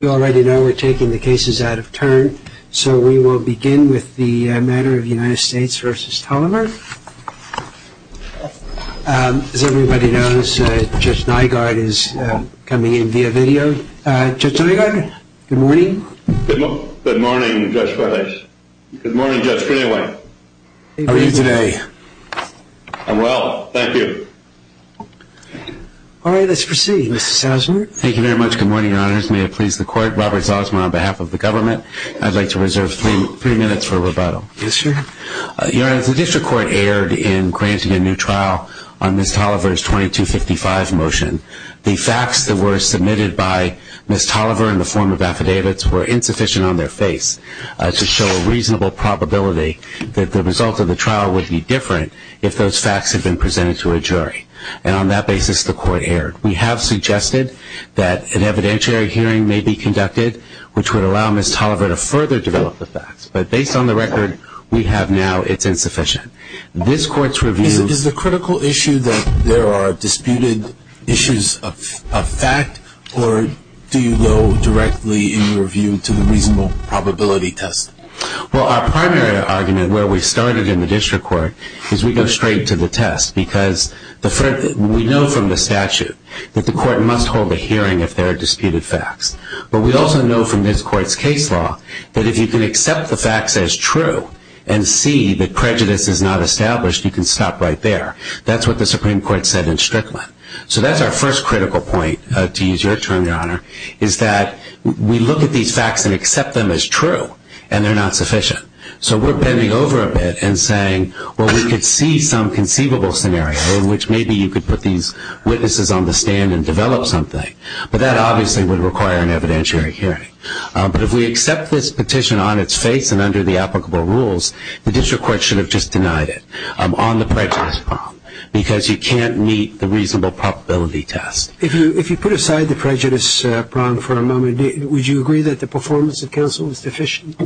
We already know we're taking the cases out of turn, so we will begin with the matter of United States v. Tolliver. As everybody knows, Judge Nygaard is coming in via video. Judge Nygaard, good morning. Good morning, Judge Bardeis. Good morning, Judge Greenaway. How are you today? I'm well, thank you. All right, let's proceed. Mr. Salzburg. Thank you very much. Good morning, Your Honors. May it please the Court, Robert Salzburg on behalf of the government. I'd like to reserve three minutes for rebuttal. Yes, sir. Your Honors, the District Court erred in granting a new trial on Ms. Tolliver's 2255 motion. The facts that were submitted by Ms. Tolliver in the form of affidavits were insufficient on their face to show a reasonable probability that the result of the trial would be different if those facts had been presented to a jury. And on that basis, the Court erred. We have suggested that an evidentiary hearing may be conducted, which would allow Ms. Tolliver to further develop the facts. But based on the record we have now, it's insufficient. Is the critical issue that there are disputed issues of fact, or do you go directly in your view to the reasonable probability test? Well, our primary argument where we started in the District Court is we go straight to the test because we know from the statute that the Court must hold a hearing if there are disputed facts. But we also know from this Court's case law that if you can accept the facts as true and see that prejudice is not established, you can stop right there. That's what the Supreme Court said in Strickland. So that's our first critical point, to use your term, Your Honor, is that we look at these facts and accept them as true, and they're not sufficient. So we're bending over a bit and saying, well, we could see some conceivable scenario in which maybe you could put these witnesses on the stand and develop something. But that obviously would require an evidentiary hearing. But if we accept this petition on its face and under the applicable rules, the District Court should have just denied it on the prejudice prong because you can't meet the reasonable probability test. If you put aside the prejudice prong for a moment, would you agree that the performance of counsel is deficient?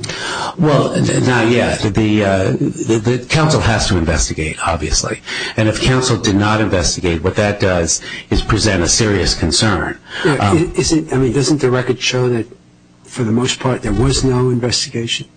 Well, not yet. The counsel has to investigate, obviously. And if counsel did not investigate, what that does is present a serious concern. I mean, doesn't the record show that, for the most part, there was no investigation?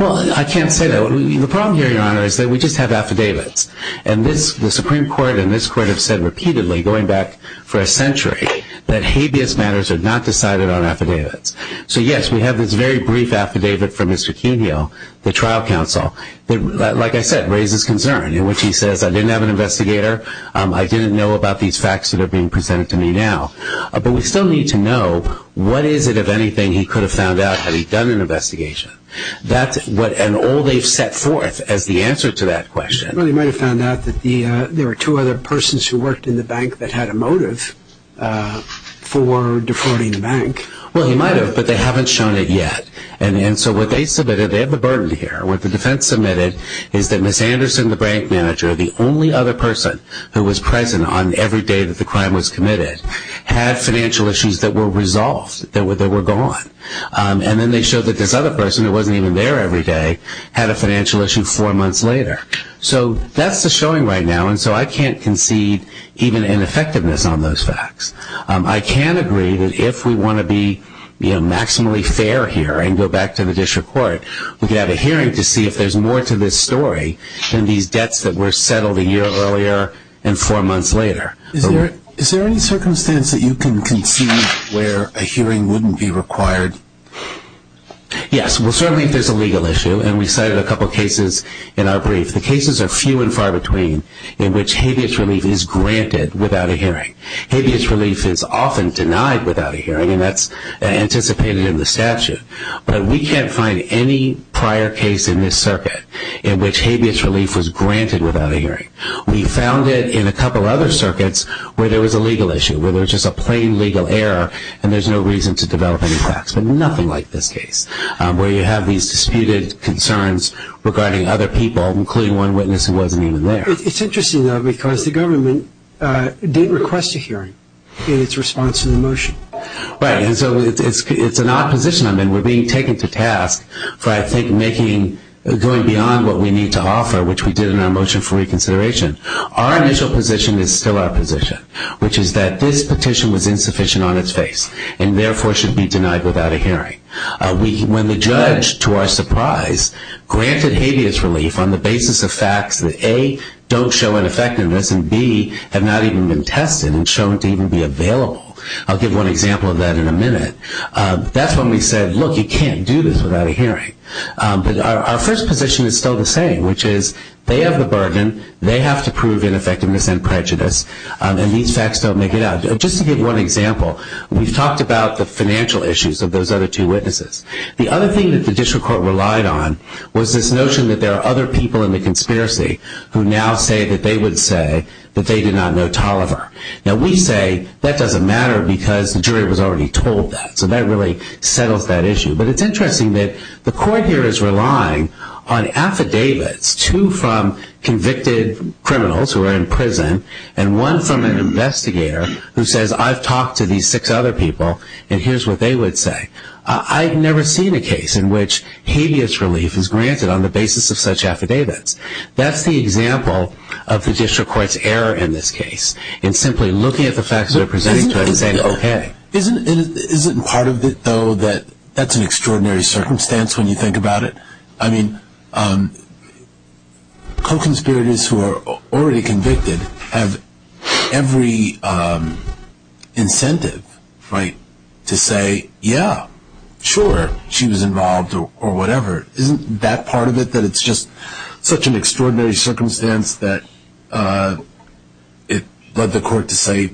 Well, I can't say that. The problem here, Your Honor, is that we just have affidavits. And the Supreme Court and this Court have said repeatedly, going back for a century, that habeas matters are not decided on affidavits. So, yes, we have this very brief affidavit from Mr. Cuneo, the trial counsel, that, like I said, raises concern in which he says, I didn't have an investigator. I didn't know about these facts that are being presented to me now. But we still need to know what is it, if anything, he could have found out had he done an investigation. And all they've set forth as the answer to that question. Well, he might have found out that there were two other persons who worked in the bank that had a motive for defrauding the bank. Well, he might have, but they haven't shown it yet. And so what they submitted, they have the burden here, what the defense submitted is that Ms. Anderson, the bank manager, the only other person who was present on every day that the crime was committed, had financial issues that were resolved, that were gone. And then they showed that this other person, who wasn't even there every day, had a financial issue four months later. So that's the showing right now. And so I can't concede even in effectiveness on those facts. I can agree that if we want to be maximally fair here and go back to the district court, we could have a hearing to see if there's more to this story than these debts that were settled a year earlier and four months later. Is there any circumstance that you can concede where a hearing wouldn't be required? Yes. Well, certainly if there's a legal issue, and we cited a couple cases in our brief. The cases are few and far between in which habeas relief is granted without a hearing. Habeas relief is often denied without a hearing, and that's anticipated in the statute. But we can't find any prior case in this circuit in which habeas relief was granted without a hearing. We found it in a couple other circuits where there was a legal issue, where there was just a plain legal error and there's no reason to develop any facts, but nothing like this case where you have these disputed concerns regarding other people, including one witness who wasn't even there. It's interesting, though, because the government didn't request a hearing in its response to the motion. Right, and so it's an odd position. I mean, we're being taken to task for, I think, going beyond what we need to offer, which we did in our motion for reconsideration. Our initial position is still our position, which is that this petition was insufficient on its face and therefore should be denied without a hearing. When the judge, to our surprise, granted habeas relief on the basis of facts that, A, don't show ineffectiveness, and B, have not even been tested and shown to even be available. I'll give one example of that in a minute. That's when we said, look, you can't do this without a hearing. But our first position is still the same, which is they have the burden, they have to prove ineffectiveness and prejudice, and these facts don't make it out. Just to give one example, we've talked about the financial issues of those other two witnesses. The other thing that the district court relied on was this notion that there are other people in the conspiracy who now say that they would say that they did not know Tolliver. Now, we say that doesn't matter because the jury was already told that, so that really settles that issue. But it's interesting that the court here is relying on affidavits, two from convicted criminals who are in prison and one from an investigator who says, I've talked to these six other people and here's what they would say. I've never seen a case in which habeas relief is granted on the basis of such affidavits. That's the example of the district court's error in this case in simply looking at the facts that are presented to it and saying, okay. Isn't part of it, though, that that's an extraordinary circumstance when you think about it? I mean, co-conspirators who are already convicted have every incentive to say, yeah, sure. She was involved or whatever. Isn't that part of it that it's just such an extraordinary circumstance that it led the court to say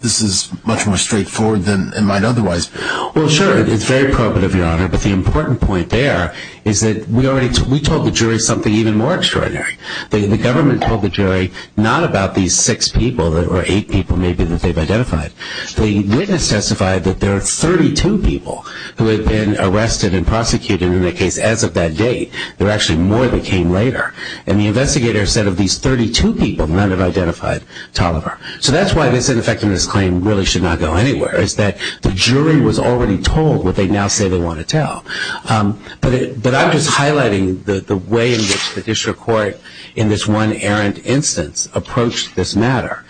this is much more straightforward than it might otherwise? Well, sure. It's very probative, Your Honor. But the important point there is that we told the jury something even more extraordinary. The government told the jury not about these six people or eight people maybe that they've identified. The witness testified that there are 32 people who have been arrested and prosecuted in the case as of that date. There are actually more that came later. And the investigator said of these 32 people, none have identified Tolliver. So that's why this ineffectiveness claim really should not go anywhere, is that the jury was already told what they now say they want to tell. But I'm just highlighting the way in which the district court in this one errant instance approached this matter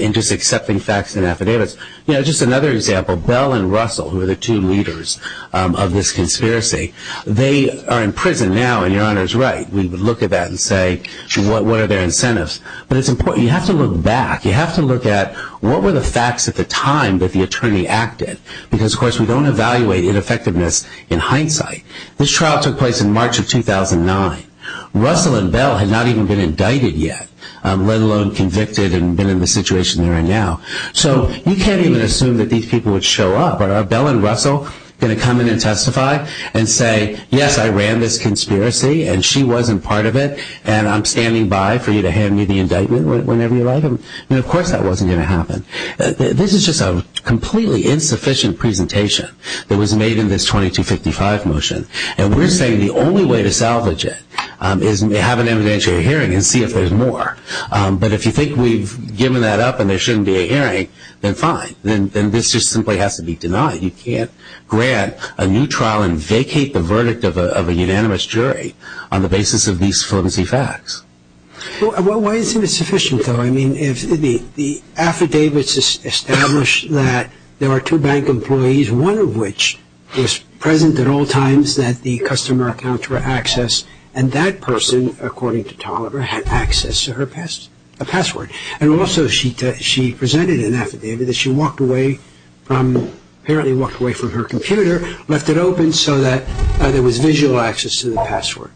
in just accepting facts and affidavits. You know, just another example, Bell and Russell, who are the two leaders of this conspiracy, they are in prison now, and Your Honor is right. We would look at that and say, what are their incentives? But it's important. You have to look back. You have to look at what were the facts at the time that the attorney acted, because, of course, we don't evaluate ineffectiveness in hindsight. This trial took place in March of 2009. Russell and Bell had not even been indicted yet, let alone convicted and been in the situation they're in now. So you can't even assume that these people would show up. Are Bell and Russell going to come in and testify and say, yes, I ran this conspiracy, and she wasn't part of it, and I'm standing by for you to hand me the indictment whenever you like? Of course that wasn't going to happen. This is just a completely insufficient presentation that was made in this 2255 motion, and we're saying the only way to salvage it is to have an evidentiary hearing and see if there's more. But if you think we've given that up and there shouldn't be a hearing, then fine. Then this just simply has to be denied. You can't grant a new trial and vacate the verdict of a unanimous jury on the basis of these flimsy facts. Why isn't it sufficient, though? The affidavits establish that there are two bank employees, one of which was present at all times that the customer accounts were accessed, and that person, according to Toliver, had access to her password. And also she presented an affidavit that she apparently walked away from her computer, left it open so that there was visual access to the password.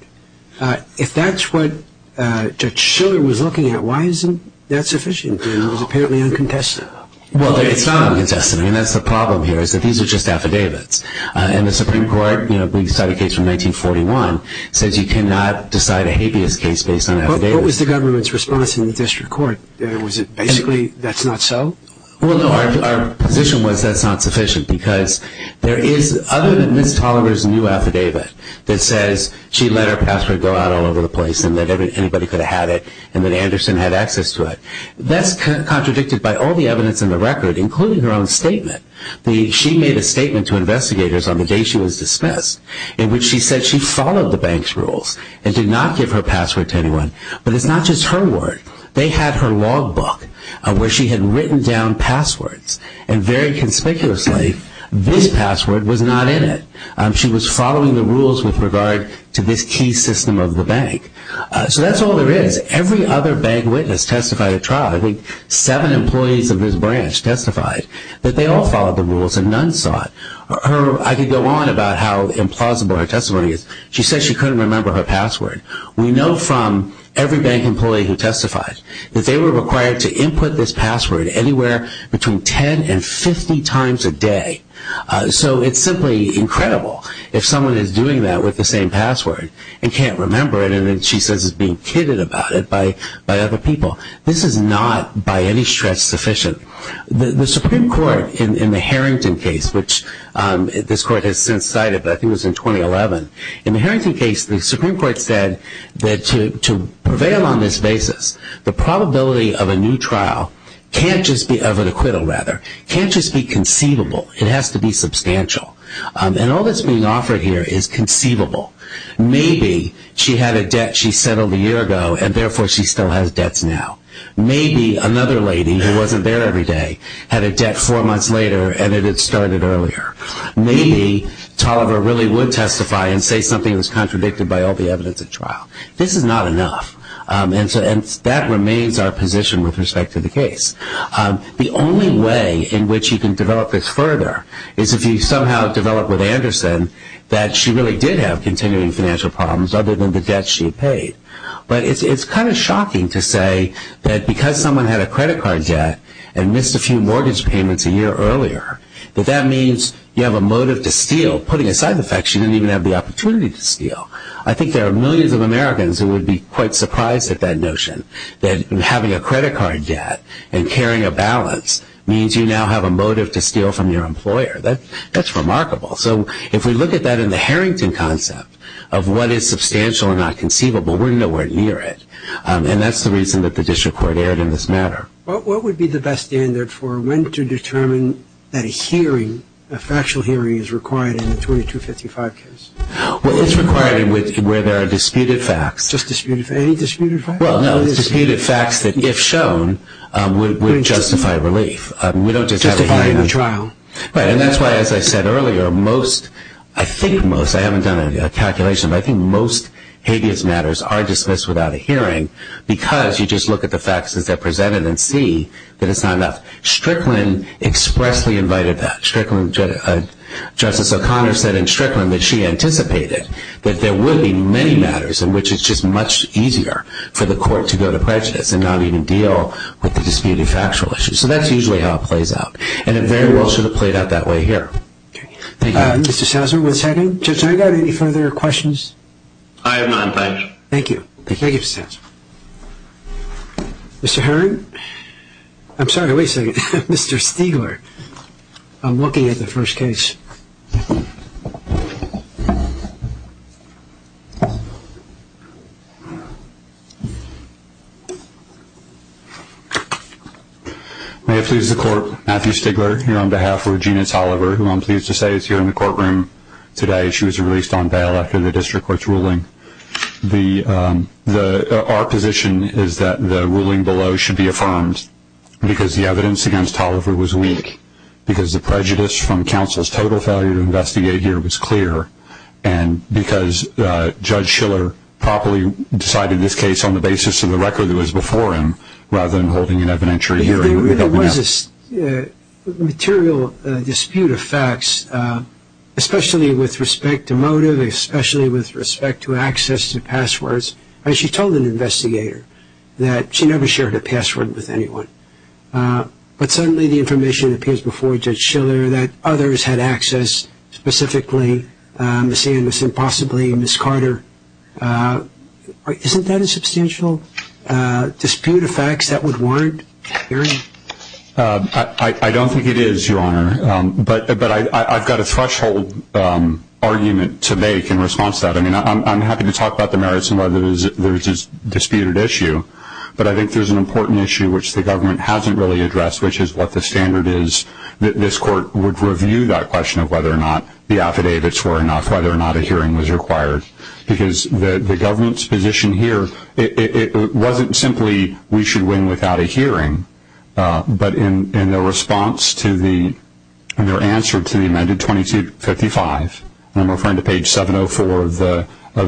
If that's what Judge Schiller was looking at, why isn't that sufficient? It was apparently uncontested. Well, it's not uncontested. I mean, that's the problem here is that these are just affidavits. And the Supreme Court, you know, we've decided a case from 1941, says you cannot decide a habeas case based on affidavits. What was the government's response in the district court? Was it basically that's not so? Well, no, our position was that's not sufficient because there is, other than Ms. Toliver's new affidavit that says she let her password go out all over the place and that anybody could have had it and that Anderson had access to it, that's contradicted by all the evidence in the record, including her own statement. She made a statement to investigators on the day she was dismissed in which she said she followed the bank's rules and did not give her password to anyone. But it's not just her word. They had her logbook where she had written down passwords. And very conspicuously, this password was not in it. She was following the rules with regard to this key system of the bank. So that's all there is. Every other bank witness testified at trial. I think seven employees of this branch testified that they all followed the rules and none sought. I could go on about how implausible her testimony is. She said she couldn't remember her password. We know from every bank employee who testified that they were required to input this password anywhere between 10 and 50 times a day. So it's simply incredible if someone is doing that with the same password and can't remember it and then she says is being kidded about it by other people. This is not by any stretch sufficient. The Supreme Court in the Harrington case, which this court has since cited, but I think it was in 2011, in the Harrington case, the Supreme Court said that to prevail on this basis, the probability of a new trial can't just be, of an acquittal rather, can't just be conceivable. It has to be substantial. And all that's being offered here is conceivable. Maybe she had a debt she settled a year ago and therefore she still has debts now. Maybe another lady who wasn't there every day had a debt four months later and it had started earlier. Maybe Toliver really would testify and say something was contradicted by all the evidence at trial. This is not enough. And that remains our position with respect to the case. The only way in which you can develop this further is if you somehow develop with Anderson that she really did have continuing financial problems other than the debt she had paid. But it's kind of shocking to say that because someone had a credit card debt and missed a few mortgage payments a year earlier, that that means you have a motive to steal, putting aside the fact she didn't even have the opportunity to steal. I think there are millions of Americans who would be quite surprised at that notion that having a credit card debt and carrying a balance means you now have a motive to steal from your employer. That's remarkable. So if we look at that in the Harrington concept of what is substantial and not conceivable, we're nowhere near it. And that's the reason that the district court erred in this matter. What would be the best standard for when to determine that a hearing, a factual hearing is required in a 2255 case? Well, it's required where there are disputed facts. Any disputed facts? Disputed facts that, if shown, would justify relief. Justifying the trial. Right, and that's why, as I said earlier, most, I think most, I haven't done a calculation, but I think most habeas matters are dismissed without a hearing because you just look at the facts as they're presented and see that it's not enough. Strickland expressly invited that. Justice O'Connor said in Strickland that she anticipated that there would be many matters in which it's just much easier for the court to go to prejudice and not even deal with the disputed factual issues. So that's usually how it plays out, and it very well should have played out that way here. Thank you. Mr. Souser, one second. Judge, do I have any further questions? I have none, thank you. Thank you. Thank you, Mr. Souser. Mr. Herring? I'm sorry, wait a second. Mr. Stigler, I'm looking at the first case. May it please the Court, Matthew Stigler here on behalf of Regina Tolliver, who I'm pleased to say is here in the courtroom today. She was released on bail after the district court's ruling. Our position is that the ruling below should be affirmed because the evidence against Tolliver was weak, because the prejudice from counsel's total failure to investigate here was clear, and because Judge Schiller properly decided this case on the basis of the record that was before him rather than holding an evidentiary hearing. There really was a material dispute of facts, especially with respect to motive, especially with respect to access to passwords. I mean, she told an investigator that she never shared a password with anyone, but suddenly the information appears before Judge Schiller that others had access, specifically Ms. Anderson, possibly Ms. Carter. Isn't that a substantial dispute of facts that would warrant a hearing? I don't think it is, Your Honor, but I've got a threshold argument to make in response to that. I mean, I'm happy to talk about the merits and whether there's a disputed issue, but I think there's an important issue which the government hasn't really addressed, which is what the standard is that this court would review that question of whether or not the affidavits were enough, whether or not a hearing was required. Because the government's position here, it wasn't simply we should win without a hearing, but in their response to the, in their answer to the amended 2255, and I'm referring to page 704 of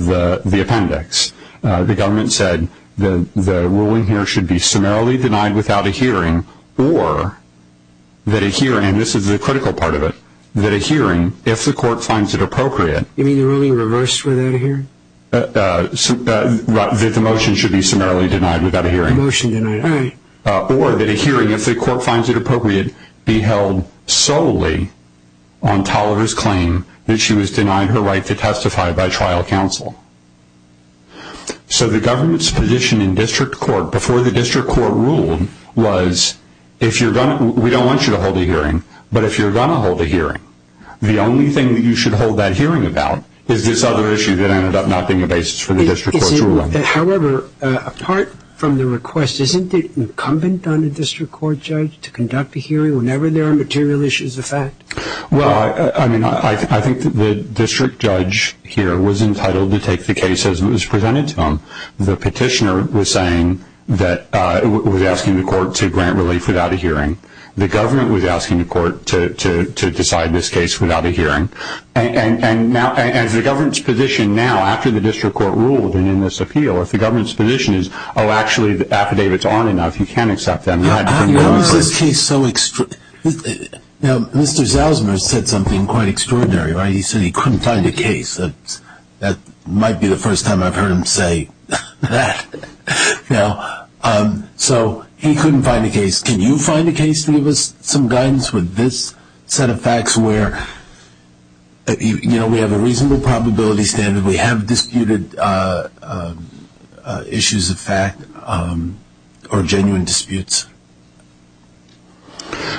the appendix, the government said the ruling here should be summarily denied without a hearing, or that a hearing, and this is the critical part of it, that a hearing, if the court finds it appropriate. You mean the ruling reversed without a hearing? That the motion should be summarily denied without a hearing. The motion denied, all right. Or that a hearing, if the court finds it appropriate, be held solely on Toliver's claim that she was denied her right to testify by trial counsel. So the government's position in district court before the district court ruled was if you're going to, we don't want you to hold a hearing, but if you're going to hold a hearing, the only thing that you should hold that hearing about is this other issue that ended up not being a basis for the district court's ruling. However, apart from the request, isn't it incumbent on a district court judge to conduct a hearing whenever there are material issues of fact? Well, I mean, I think the district judge here was entitled to take the case as it was presented to him. The petitioner was saying that, was asking the court to grant relief without a hearing. The government was asking the court to decide this case without a hearing. And now, as the government's position now, after the district court ruled and in this appeal, if the government's position is, oh, actually, the affidavits aren't enough, you can't accept them, you have to condemn the person. You know, is this case so, you know, Mr. Zalzman said something quite extraordinary, right? He said he couldn't find a case. That might be the first time I've heard him say that. You know, so he couldn't find a case. Can you find a case to give us some guidance with this set of facts where, you know, we have a reasonable probability standard, we have disputed issues of fact or genuine disputes?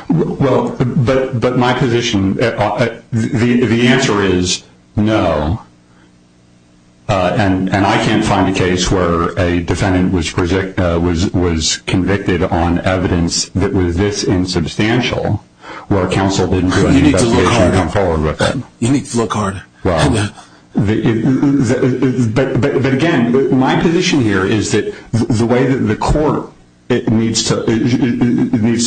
Well, but my position, the answer is no. And I can't find a case where a defendant was convicted on evidence that was this insubstantial where counsel didn't do an investigation to come forward with it. You need to look harder. But again, my position here is that the way that the court needs to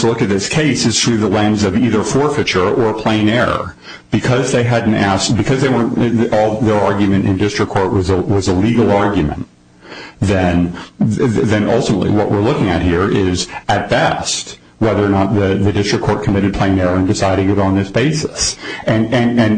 look at this case is through the lens of either forfeiture or plain error. Because their argument in district court was a legal argument, then ultimately what we're looking at here is, at best, whether or not the district court committed plain error in deciding it on this basis. And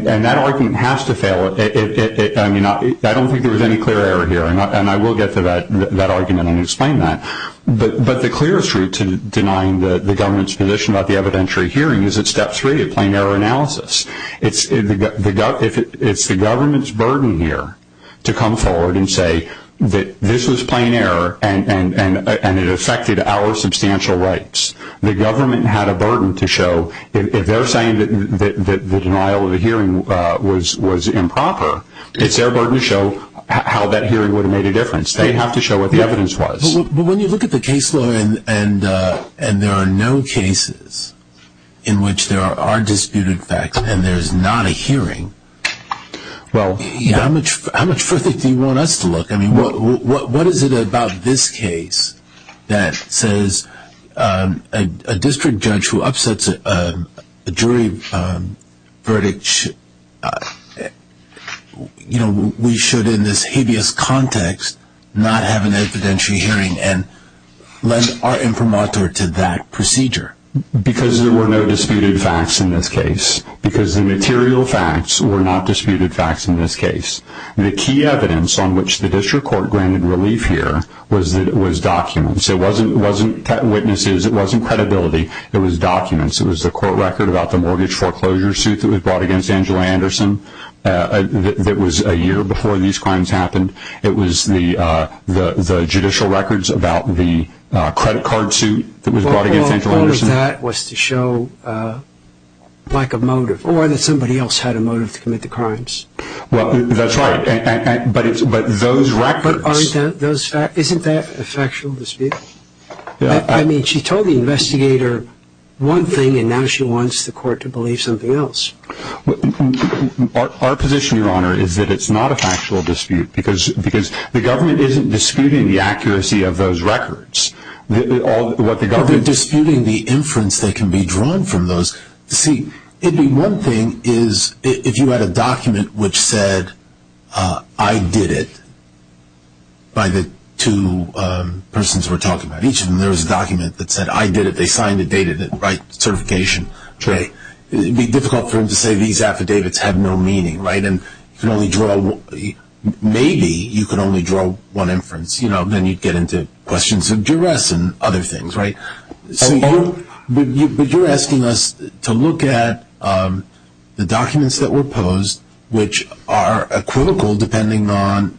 that argument has to fail. I mean, I don't think there was any clear error here. And I will get to that argument and explain that. But the clearest route to denying the government's position about the evidentiary hearing is at step three, a plain error analysis. It's the government's burden here to come forward and say that this was plain error and it affected our substantial rights. The government had a burden to show if they're saying that the denial of the hearing was improper, it's their burden to show how that hearing would have made a difference. They have to show what the evidence was. But when you look at the case law and there are no cases in which there are disputed facts and there's not a hearing, how much further do you want us to look? I mean, what is it about this case that says a district judge who upsets a jury verdict, we should, in this hideous context, not have an evidentiary hearing and lend our informator to that procedure? Because there were no disputed facts in this case. Because the material facts were not disputed facts in this case. The key evidence on which the district court granted relief here was documents. It wasn't witnesses. It wasn't credibility. It was documents. It was the court record about the mortgage foreclosure suit that was brought against Angela Anderson that was a year before these crimes happened. It was the judicial records about the credit card suit that was brought against Angela Anderson. All of that was to show lack of motive, or that somebody else had a motive to commit the crimes. Well, that's right. But those records. But aren't those facts? Isn't that a factual dispute? I mean, she told the investigator one thing, and now she wants the court to believe something else. Our position, Your Honor, is that it's not a factual dispute because the government isn't disputing the accuracy of those records. They're disputing the inference that can be drawn from those. See, one thing is if you had a document which said, I did it, by the two persons we're talking about. Each of them, there was a document that said, I did it. They signed it, dated it, certification. It would be difficult for them to say these affidavits have no meaning, right? Maybe you could only draw one inference. Then you'd get into questions of duress and other things, right? But you're asking us to look at the documents that were posed, which are equivocal depending on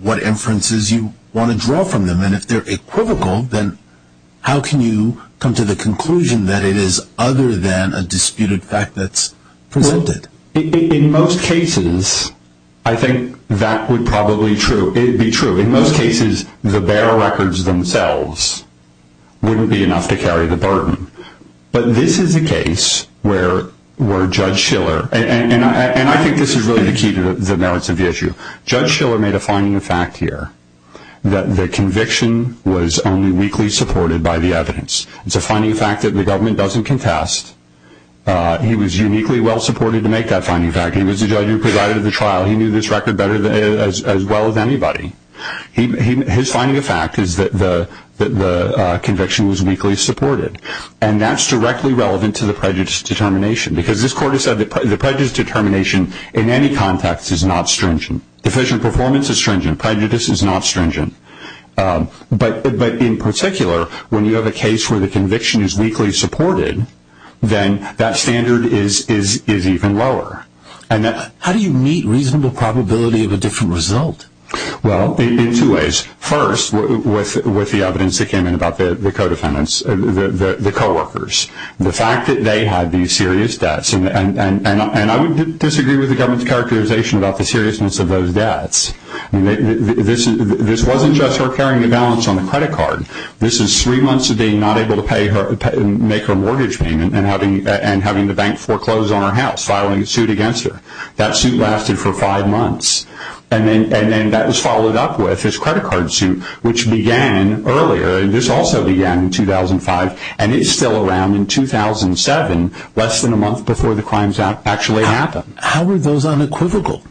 what inferences you want to draw from them. And if they're equivocal, then how can you come to the conclusion that it is other than a disputed fact that's presented? In most cases, I think that would probably be true. In most cases, the bare records themselves wouldn't be enough to carry the burden. But this is a case where Judge Shiller, and I think this is really the key to the merits of the issue, Judge Shiller made a finding of fact here that the conviction was only weakly supported by the evidence. It's a finding of fact that the government doesn't contest. He was uniquely well-supported to make that finding of fact. He was the judge who provided the trial. He knew this record as well as anybody. His finding of fact is that the conviction was weakly supported. And that's directly relevant to the prejudice determination because this court has said that the prejudice determination in any context is not stringent. Deficient performance is stringent. Prejudice is not stringent. But in particular, when you have a case where the conviction is weakly supported, then that standard is even lower. How do you meet reasonable probability of a different result? Well, in two ways. First, with the evidence that came in about the co-workers. The fact that they had these serious debts, and I would disagree with the government's characterization about the seriousness of those debts. This wasn't just her carrying the balance on the credit card. This is three months of being not able to make her mortgage payment and having the bank foreclose on her house, filing a suit against her. That suit lasted for five months. And then that was followed up with his credit card suit, which began earlier, and this also began in 2005, and it's still around in 2007, less than a month before the crimes actually happened. How are those unequivocal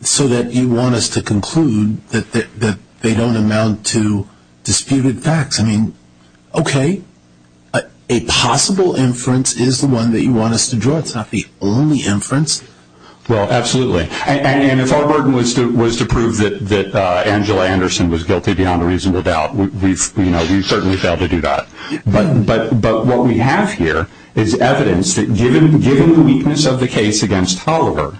so that you want us to conclude that they don't amount to disputed facts? I mean, okay, a possible inference is the one that you want us to draw. It's not the only inference. Well, absolutely. And if our burden was to prove that Angela Anderson was guilty beyond a reasonable doubt, we've certainly failed to do that. But what we have here is evidence that given the weakness of the case against Tolliver,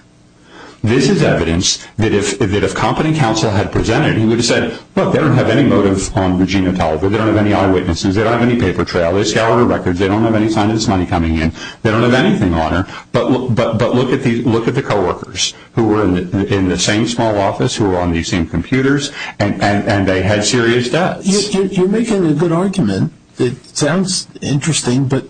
this is evidence that if company counsel had presented, he would have said, look, they don't have any motive on Regina Tolliver. They don't have any eyewitnesses. They don't have any paper trail. They scour her records. They don't have any sign of this money coming in. They don't have anything on her. But look at the co-workers who were in the same small office, who were on the same computers, and they had serious debts. You're making a good argument. It sounds interesting. But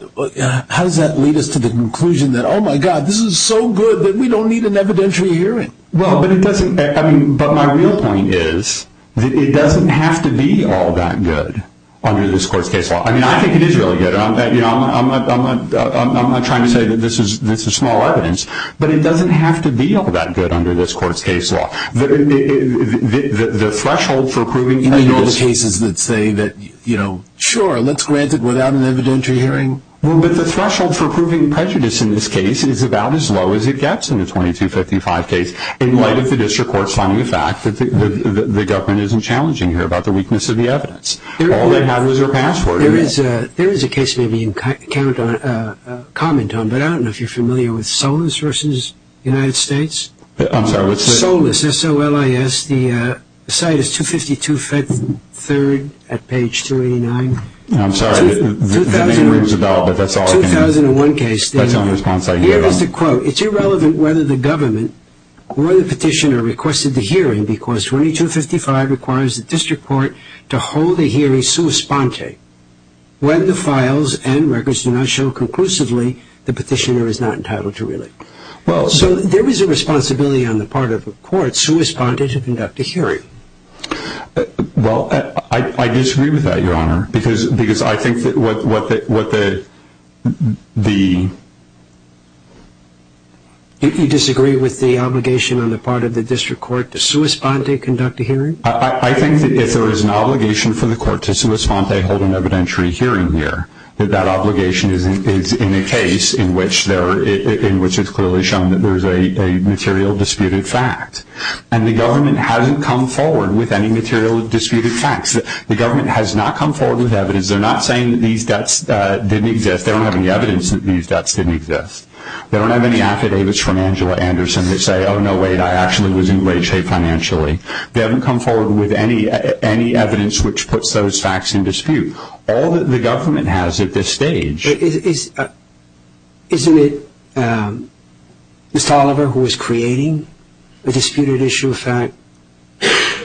how does that lead us to the conclusion that, oh, my God, this is so good that we don't need an evidentiary hearing? But my real point is that it doesn't have to be all that good under this court's case law. I mean, I think it is really good. I'm not trying to say that this is small evidence, but it doesn't have to be all that good under this court's case law. The threshold for proving prejudice… You mean the cases that say that, you know, sure, let's grant it without an evidentiary hearing. Well, but the threshold for proving prejudice in this case is about as low as it gets in the 2255 case, in light of the district court's finding the fact that the government isn't challenging here about the weakness of the evidence. All they have is their passport. There is a case maybe you can comment on, but I don't know if you're familiar with Solis v. United States. I'm sorry, what's that? Solis, S-O-L-I-S. The site is 252 3rd at page 289. I'm sorry. The name removes the doubt, but that's all I can do. 2001 case. That's the only response I can give. Here is the quote. It's irrelevant whether the government or the petitioner requested the hearing because 2255 requires the district court to hold a hearing sua sponte when the files and records do not show conclusively the petitioner is not entitled to relate. Well, so there is a responsibility on the part of the court sua sponte to conduct a hearing. Well, I disagree with that, Your Honor, because I think that what the ‑‑ You disagree with the obligation on the part of the district court to sua sponte to conduct a hearing? I think that if there is an obligation for the court to sua sponte to hold an evidentiary hearing here, that that obligation is in a case in which it's clearly shown that there is a material disputed fact. And the government hasn't come forward with any material disputed facts. The government has not come forward with evidence. They're not saying that these debts didn't exist. They don't have any evidence that these debts didn't exist. They don't have any affidavits from Angela Anderson that say, oh, no, wait, I actually was in great shape financially. They haven't come forward with any evidence which puts those facts in dispute. All that the government has at this stage ‑‑ Isn't it Ms. Toliver who is creating a disputed issue of fact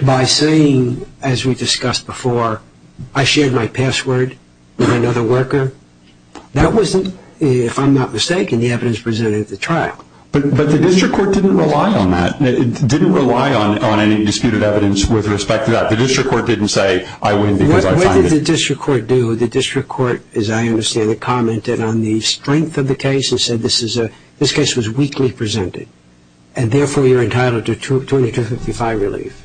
by saying, as we discussed before, I shared my password with another worker? That wasn't, if I'm not mistaken, the evidence presented at the trial. But the district court didn't rely on that. It didn't rely on any disputed evidence with respect to that. The district court didn't say I win because I signed it. What did the district court do? The district court, as I understand it, commented on the strength of the case and said this case was weakly presented, and therefore you're entitled to 2255 relief.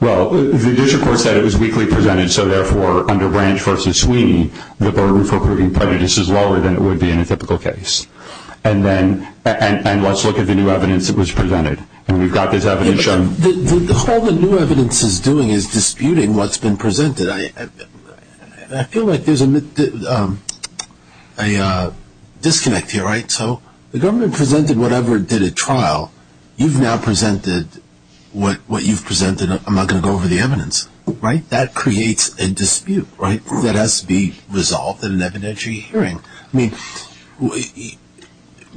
Well, the district court said it was weakly presented, so therefore under Branch v. Sweeney the burden for proving prejudice is lower than it would be in a typical case. And let's look at the new evidence that was presented. And we've got this evidence shown. All the new evidence is doing is disputing what's been presented. I feel like there's a disconnect here, right? So the government presented whatever did at trial. You've now presented what you've presented. I'm not going to go over the evidence, right? That creates a dispute, right, that has to be resolved in an evidentiary hearing. I mean,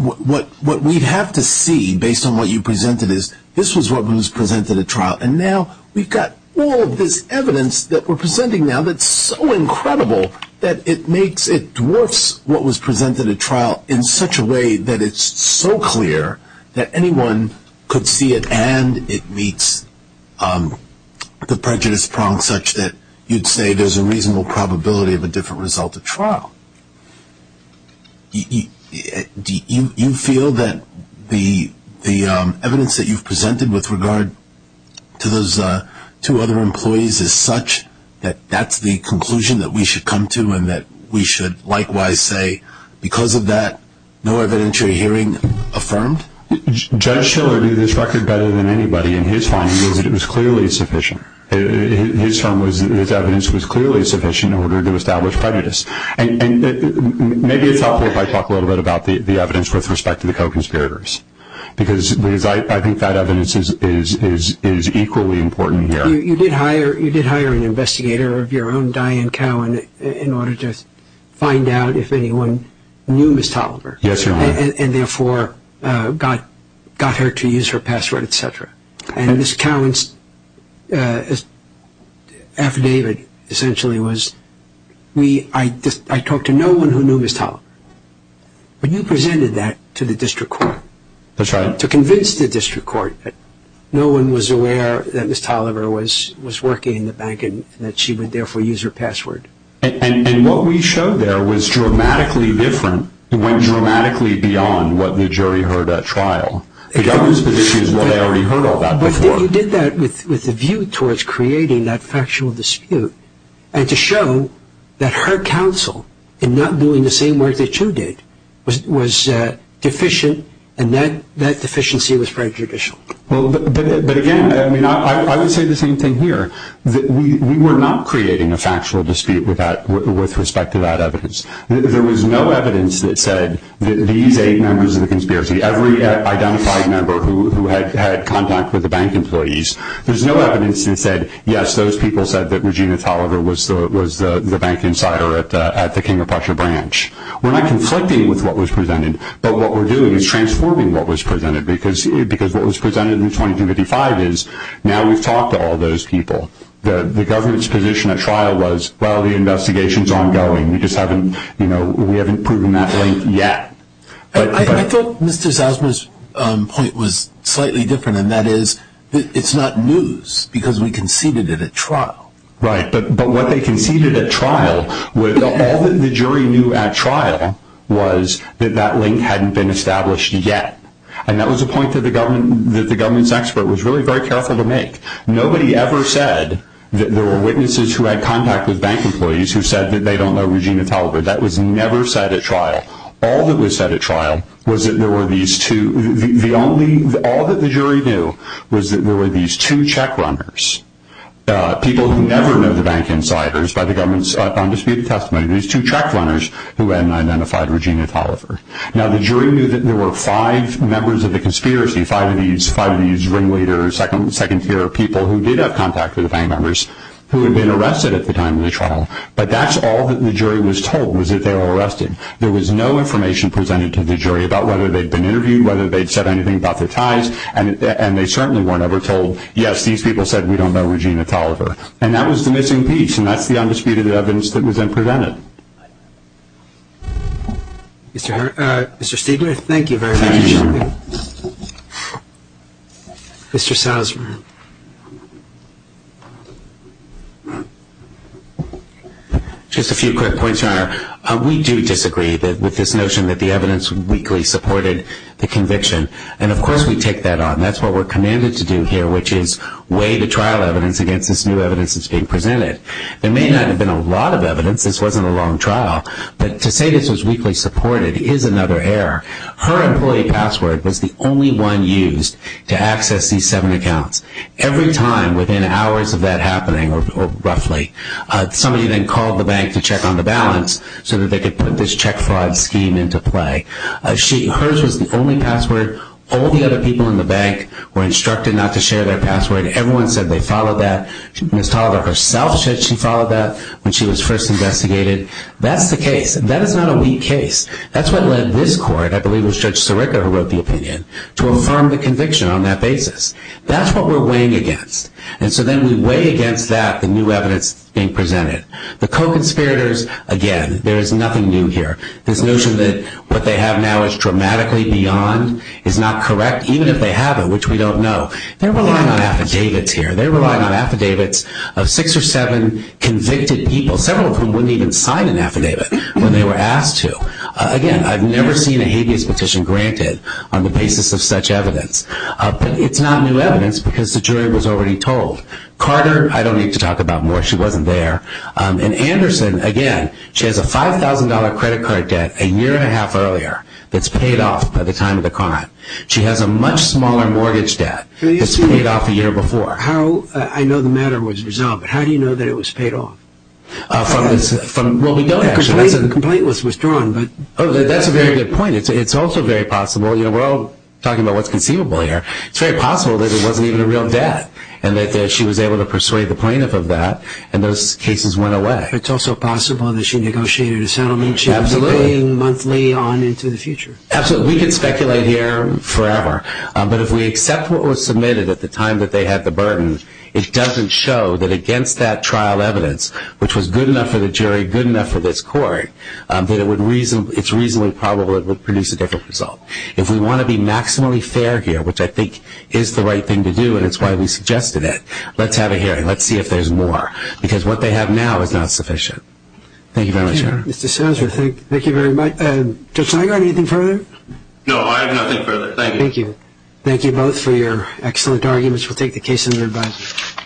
what we'd have to see, based on what you presented, is this was what was presented at trial. And now we've got all of this evidence that we're presenting now that's so incredible that it dwarfs what was presented at trial in such a way that it's so clear that anyone could see it and it meets the prejudice prong such that you'd say there's a reasonable probability of a different result at trial. Do you feel that the evidence that you've presented with regard to those two other employees is such that that's the conclusion that we should come to and that we should likewise say, because of that, no evidentiary hearing affirmed? Judge Shiller knew this record better than anybody. And his finding is that it was clearly sufficient. His evidence was clearly sufficient in order to establish prejudice. And maybe it's helpful if I talk a little bit about the evidence with respect to the co-conspirators, because I think that evidence is equally important here. You did hire an investigator of your own, Diane Cowan, in order to find out if anyone knew Ms. Toliver. Yes, Your Honor. And therefore got her to use her password, et cetera. And Ms. Cowan's affidavit essentially was, I talked to no one who knew Ms. Toliver. But you presented that to the district court. That's right. To convince the district court that no one was aware that Ms. Toliver was working in the bank and that she would therefore use her password. And what we showed there was dramatically different. It went dramatically beyond what the jury heard at trial. The government's position is, well, they already heard all that before. But you did that with a view towards creating that factual dispute and to show that her counsel in not doing the same work that you did was deficient, and that deficiency was prejudicial. But, again, I would say the same thing here. We were not creating a factual dispute with respect to that evidence. There was no evidence that said that these eight members of the conspiracy, every identified member who had contact with the bank employees, there's no evidence that said, yes, those people said that Regina Toliver was the bank insider at the King of Prussia branch. We're not conflicting with what was presented. But what we're doing is transforming what was presented, because what was presented in 2255 is now we've talked to all those people. The government's position at trial was, well, the investigation's ongoing. We just haven't, you know, we haven't proven that link yet. I thought Mr. Zausman's point was slightly different, and that is it's not news because we conceded it at trial. Right. But what they conceded at trial, all that the jury knew at trial, was that that link hadn't been established yet. And that was a point that the government's expert was really very careful to make. Nobody ever said that there were witnesses who had contact with bank employees who said that they don't know Regina Toliver. That was never said at trial. All that was said at trial was that there were these two, the only, all that the jury knew was that there were these two check runners, people who never knew the bank insiders by the government's undisputed testimony, these two check runners who had identified Regina Toliver. Now the jury knew that there were five members of the conspiracy, five of these ringleaders, second tier people who did have contact with the bank members, who had been arrested at the time of the trial. But that's all that the jury was told was that they were arrested. There was no information presented to the jury about whether they'd been interviewed, whether they'd said anything about their ties, and they certainly weren't ever told, yes, these people said we don't know Regina Toliver. And that was the missing piece, and that's the undisputed evidence that was then presented. Mr. Stiegler, thank you very much. Thank you. Mr. Salzman. Just a few quick points, Your Honor. We do disagree with this notion that the evidence weakly supported the conviction, and of course we take that on. That's what we're commanded to do here, which is weigh the trial evidence against this new evidence that's being presented. There may not have been a lot of evidence. This wasn't a long trial. But to say this was weakly supported is another error. Her employee password was the only one used to access these seven accounts. Every time within hours of that happening, or roughly, somebody then called the bank to check on the balance so that they could put this check fraud scheme into play. Hers was the only password. All the other people in the bank were instructed not to share their password. Everyone said they followed that. Ms. Toliver herself said she followed that when she was first investigated. That's the case. That is not a weak case. That's what led this court, I believe it was Judge Sirica who wrote the opinion, to affirm the conviction on that basis. That's what we're weighing against. And so then we weigh against that the new evidence being presented. The co-conspirators, again, there is nothing new here. This notion that what they have now is dramatically beyond is not correct, even if they have it, which we don't know. They're relying on affidavits here. They're relying on affidavits of six or seven convicted people, several of whom wouldn't even sign an affidavit when they were asked to. Again, I've never seen a habeas petition granted on the basis of such evidence. But it's not new evidence because the jury was already told. Carter, I don't need to talk about more. She wasn't there. And Anderson, again, she has a $5,000 credit card debt a year and a half earlier that's paid off by the time of the crime. She has a much smaller mortgage debt that's paid off a year before. I know the matter was resolved, but how do you know that it was paid off? Well, we don't actually. The complaint was withdrawn. That's a very good point. It's also very possible. You know, we're all talking about what's conceivable here. It's very possible that it wasn't even a real death and that she was able to persuade the plaintiff of that and those cases went away. It's also possible that she negotiated a settlement. Absolutely. She would be paying monthly on into the future. Absolutely. We can speculate here forever. But if we accept what was submitted at the time that they had the burden, it doesn't show that against that trial evidence, which was good enough for the jury, good enough for this court, that it's reasonably probable it would produce a different result. If we want to be maximally fair here, which I think is the right thing to do, and it's why we suggested it, let's have a hearing. Let's see if there's more. Because what they have now is not sufficient. Thank you very much. Thank you, Mr. Souser. Thank you very much. Judge Nygard, anything further? No, I have nothing further. Thank you. Thank you. Thank you both for your excellent arguments. We'll take the case under advisory.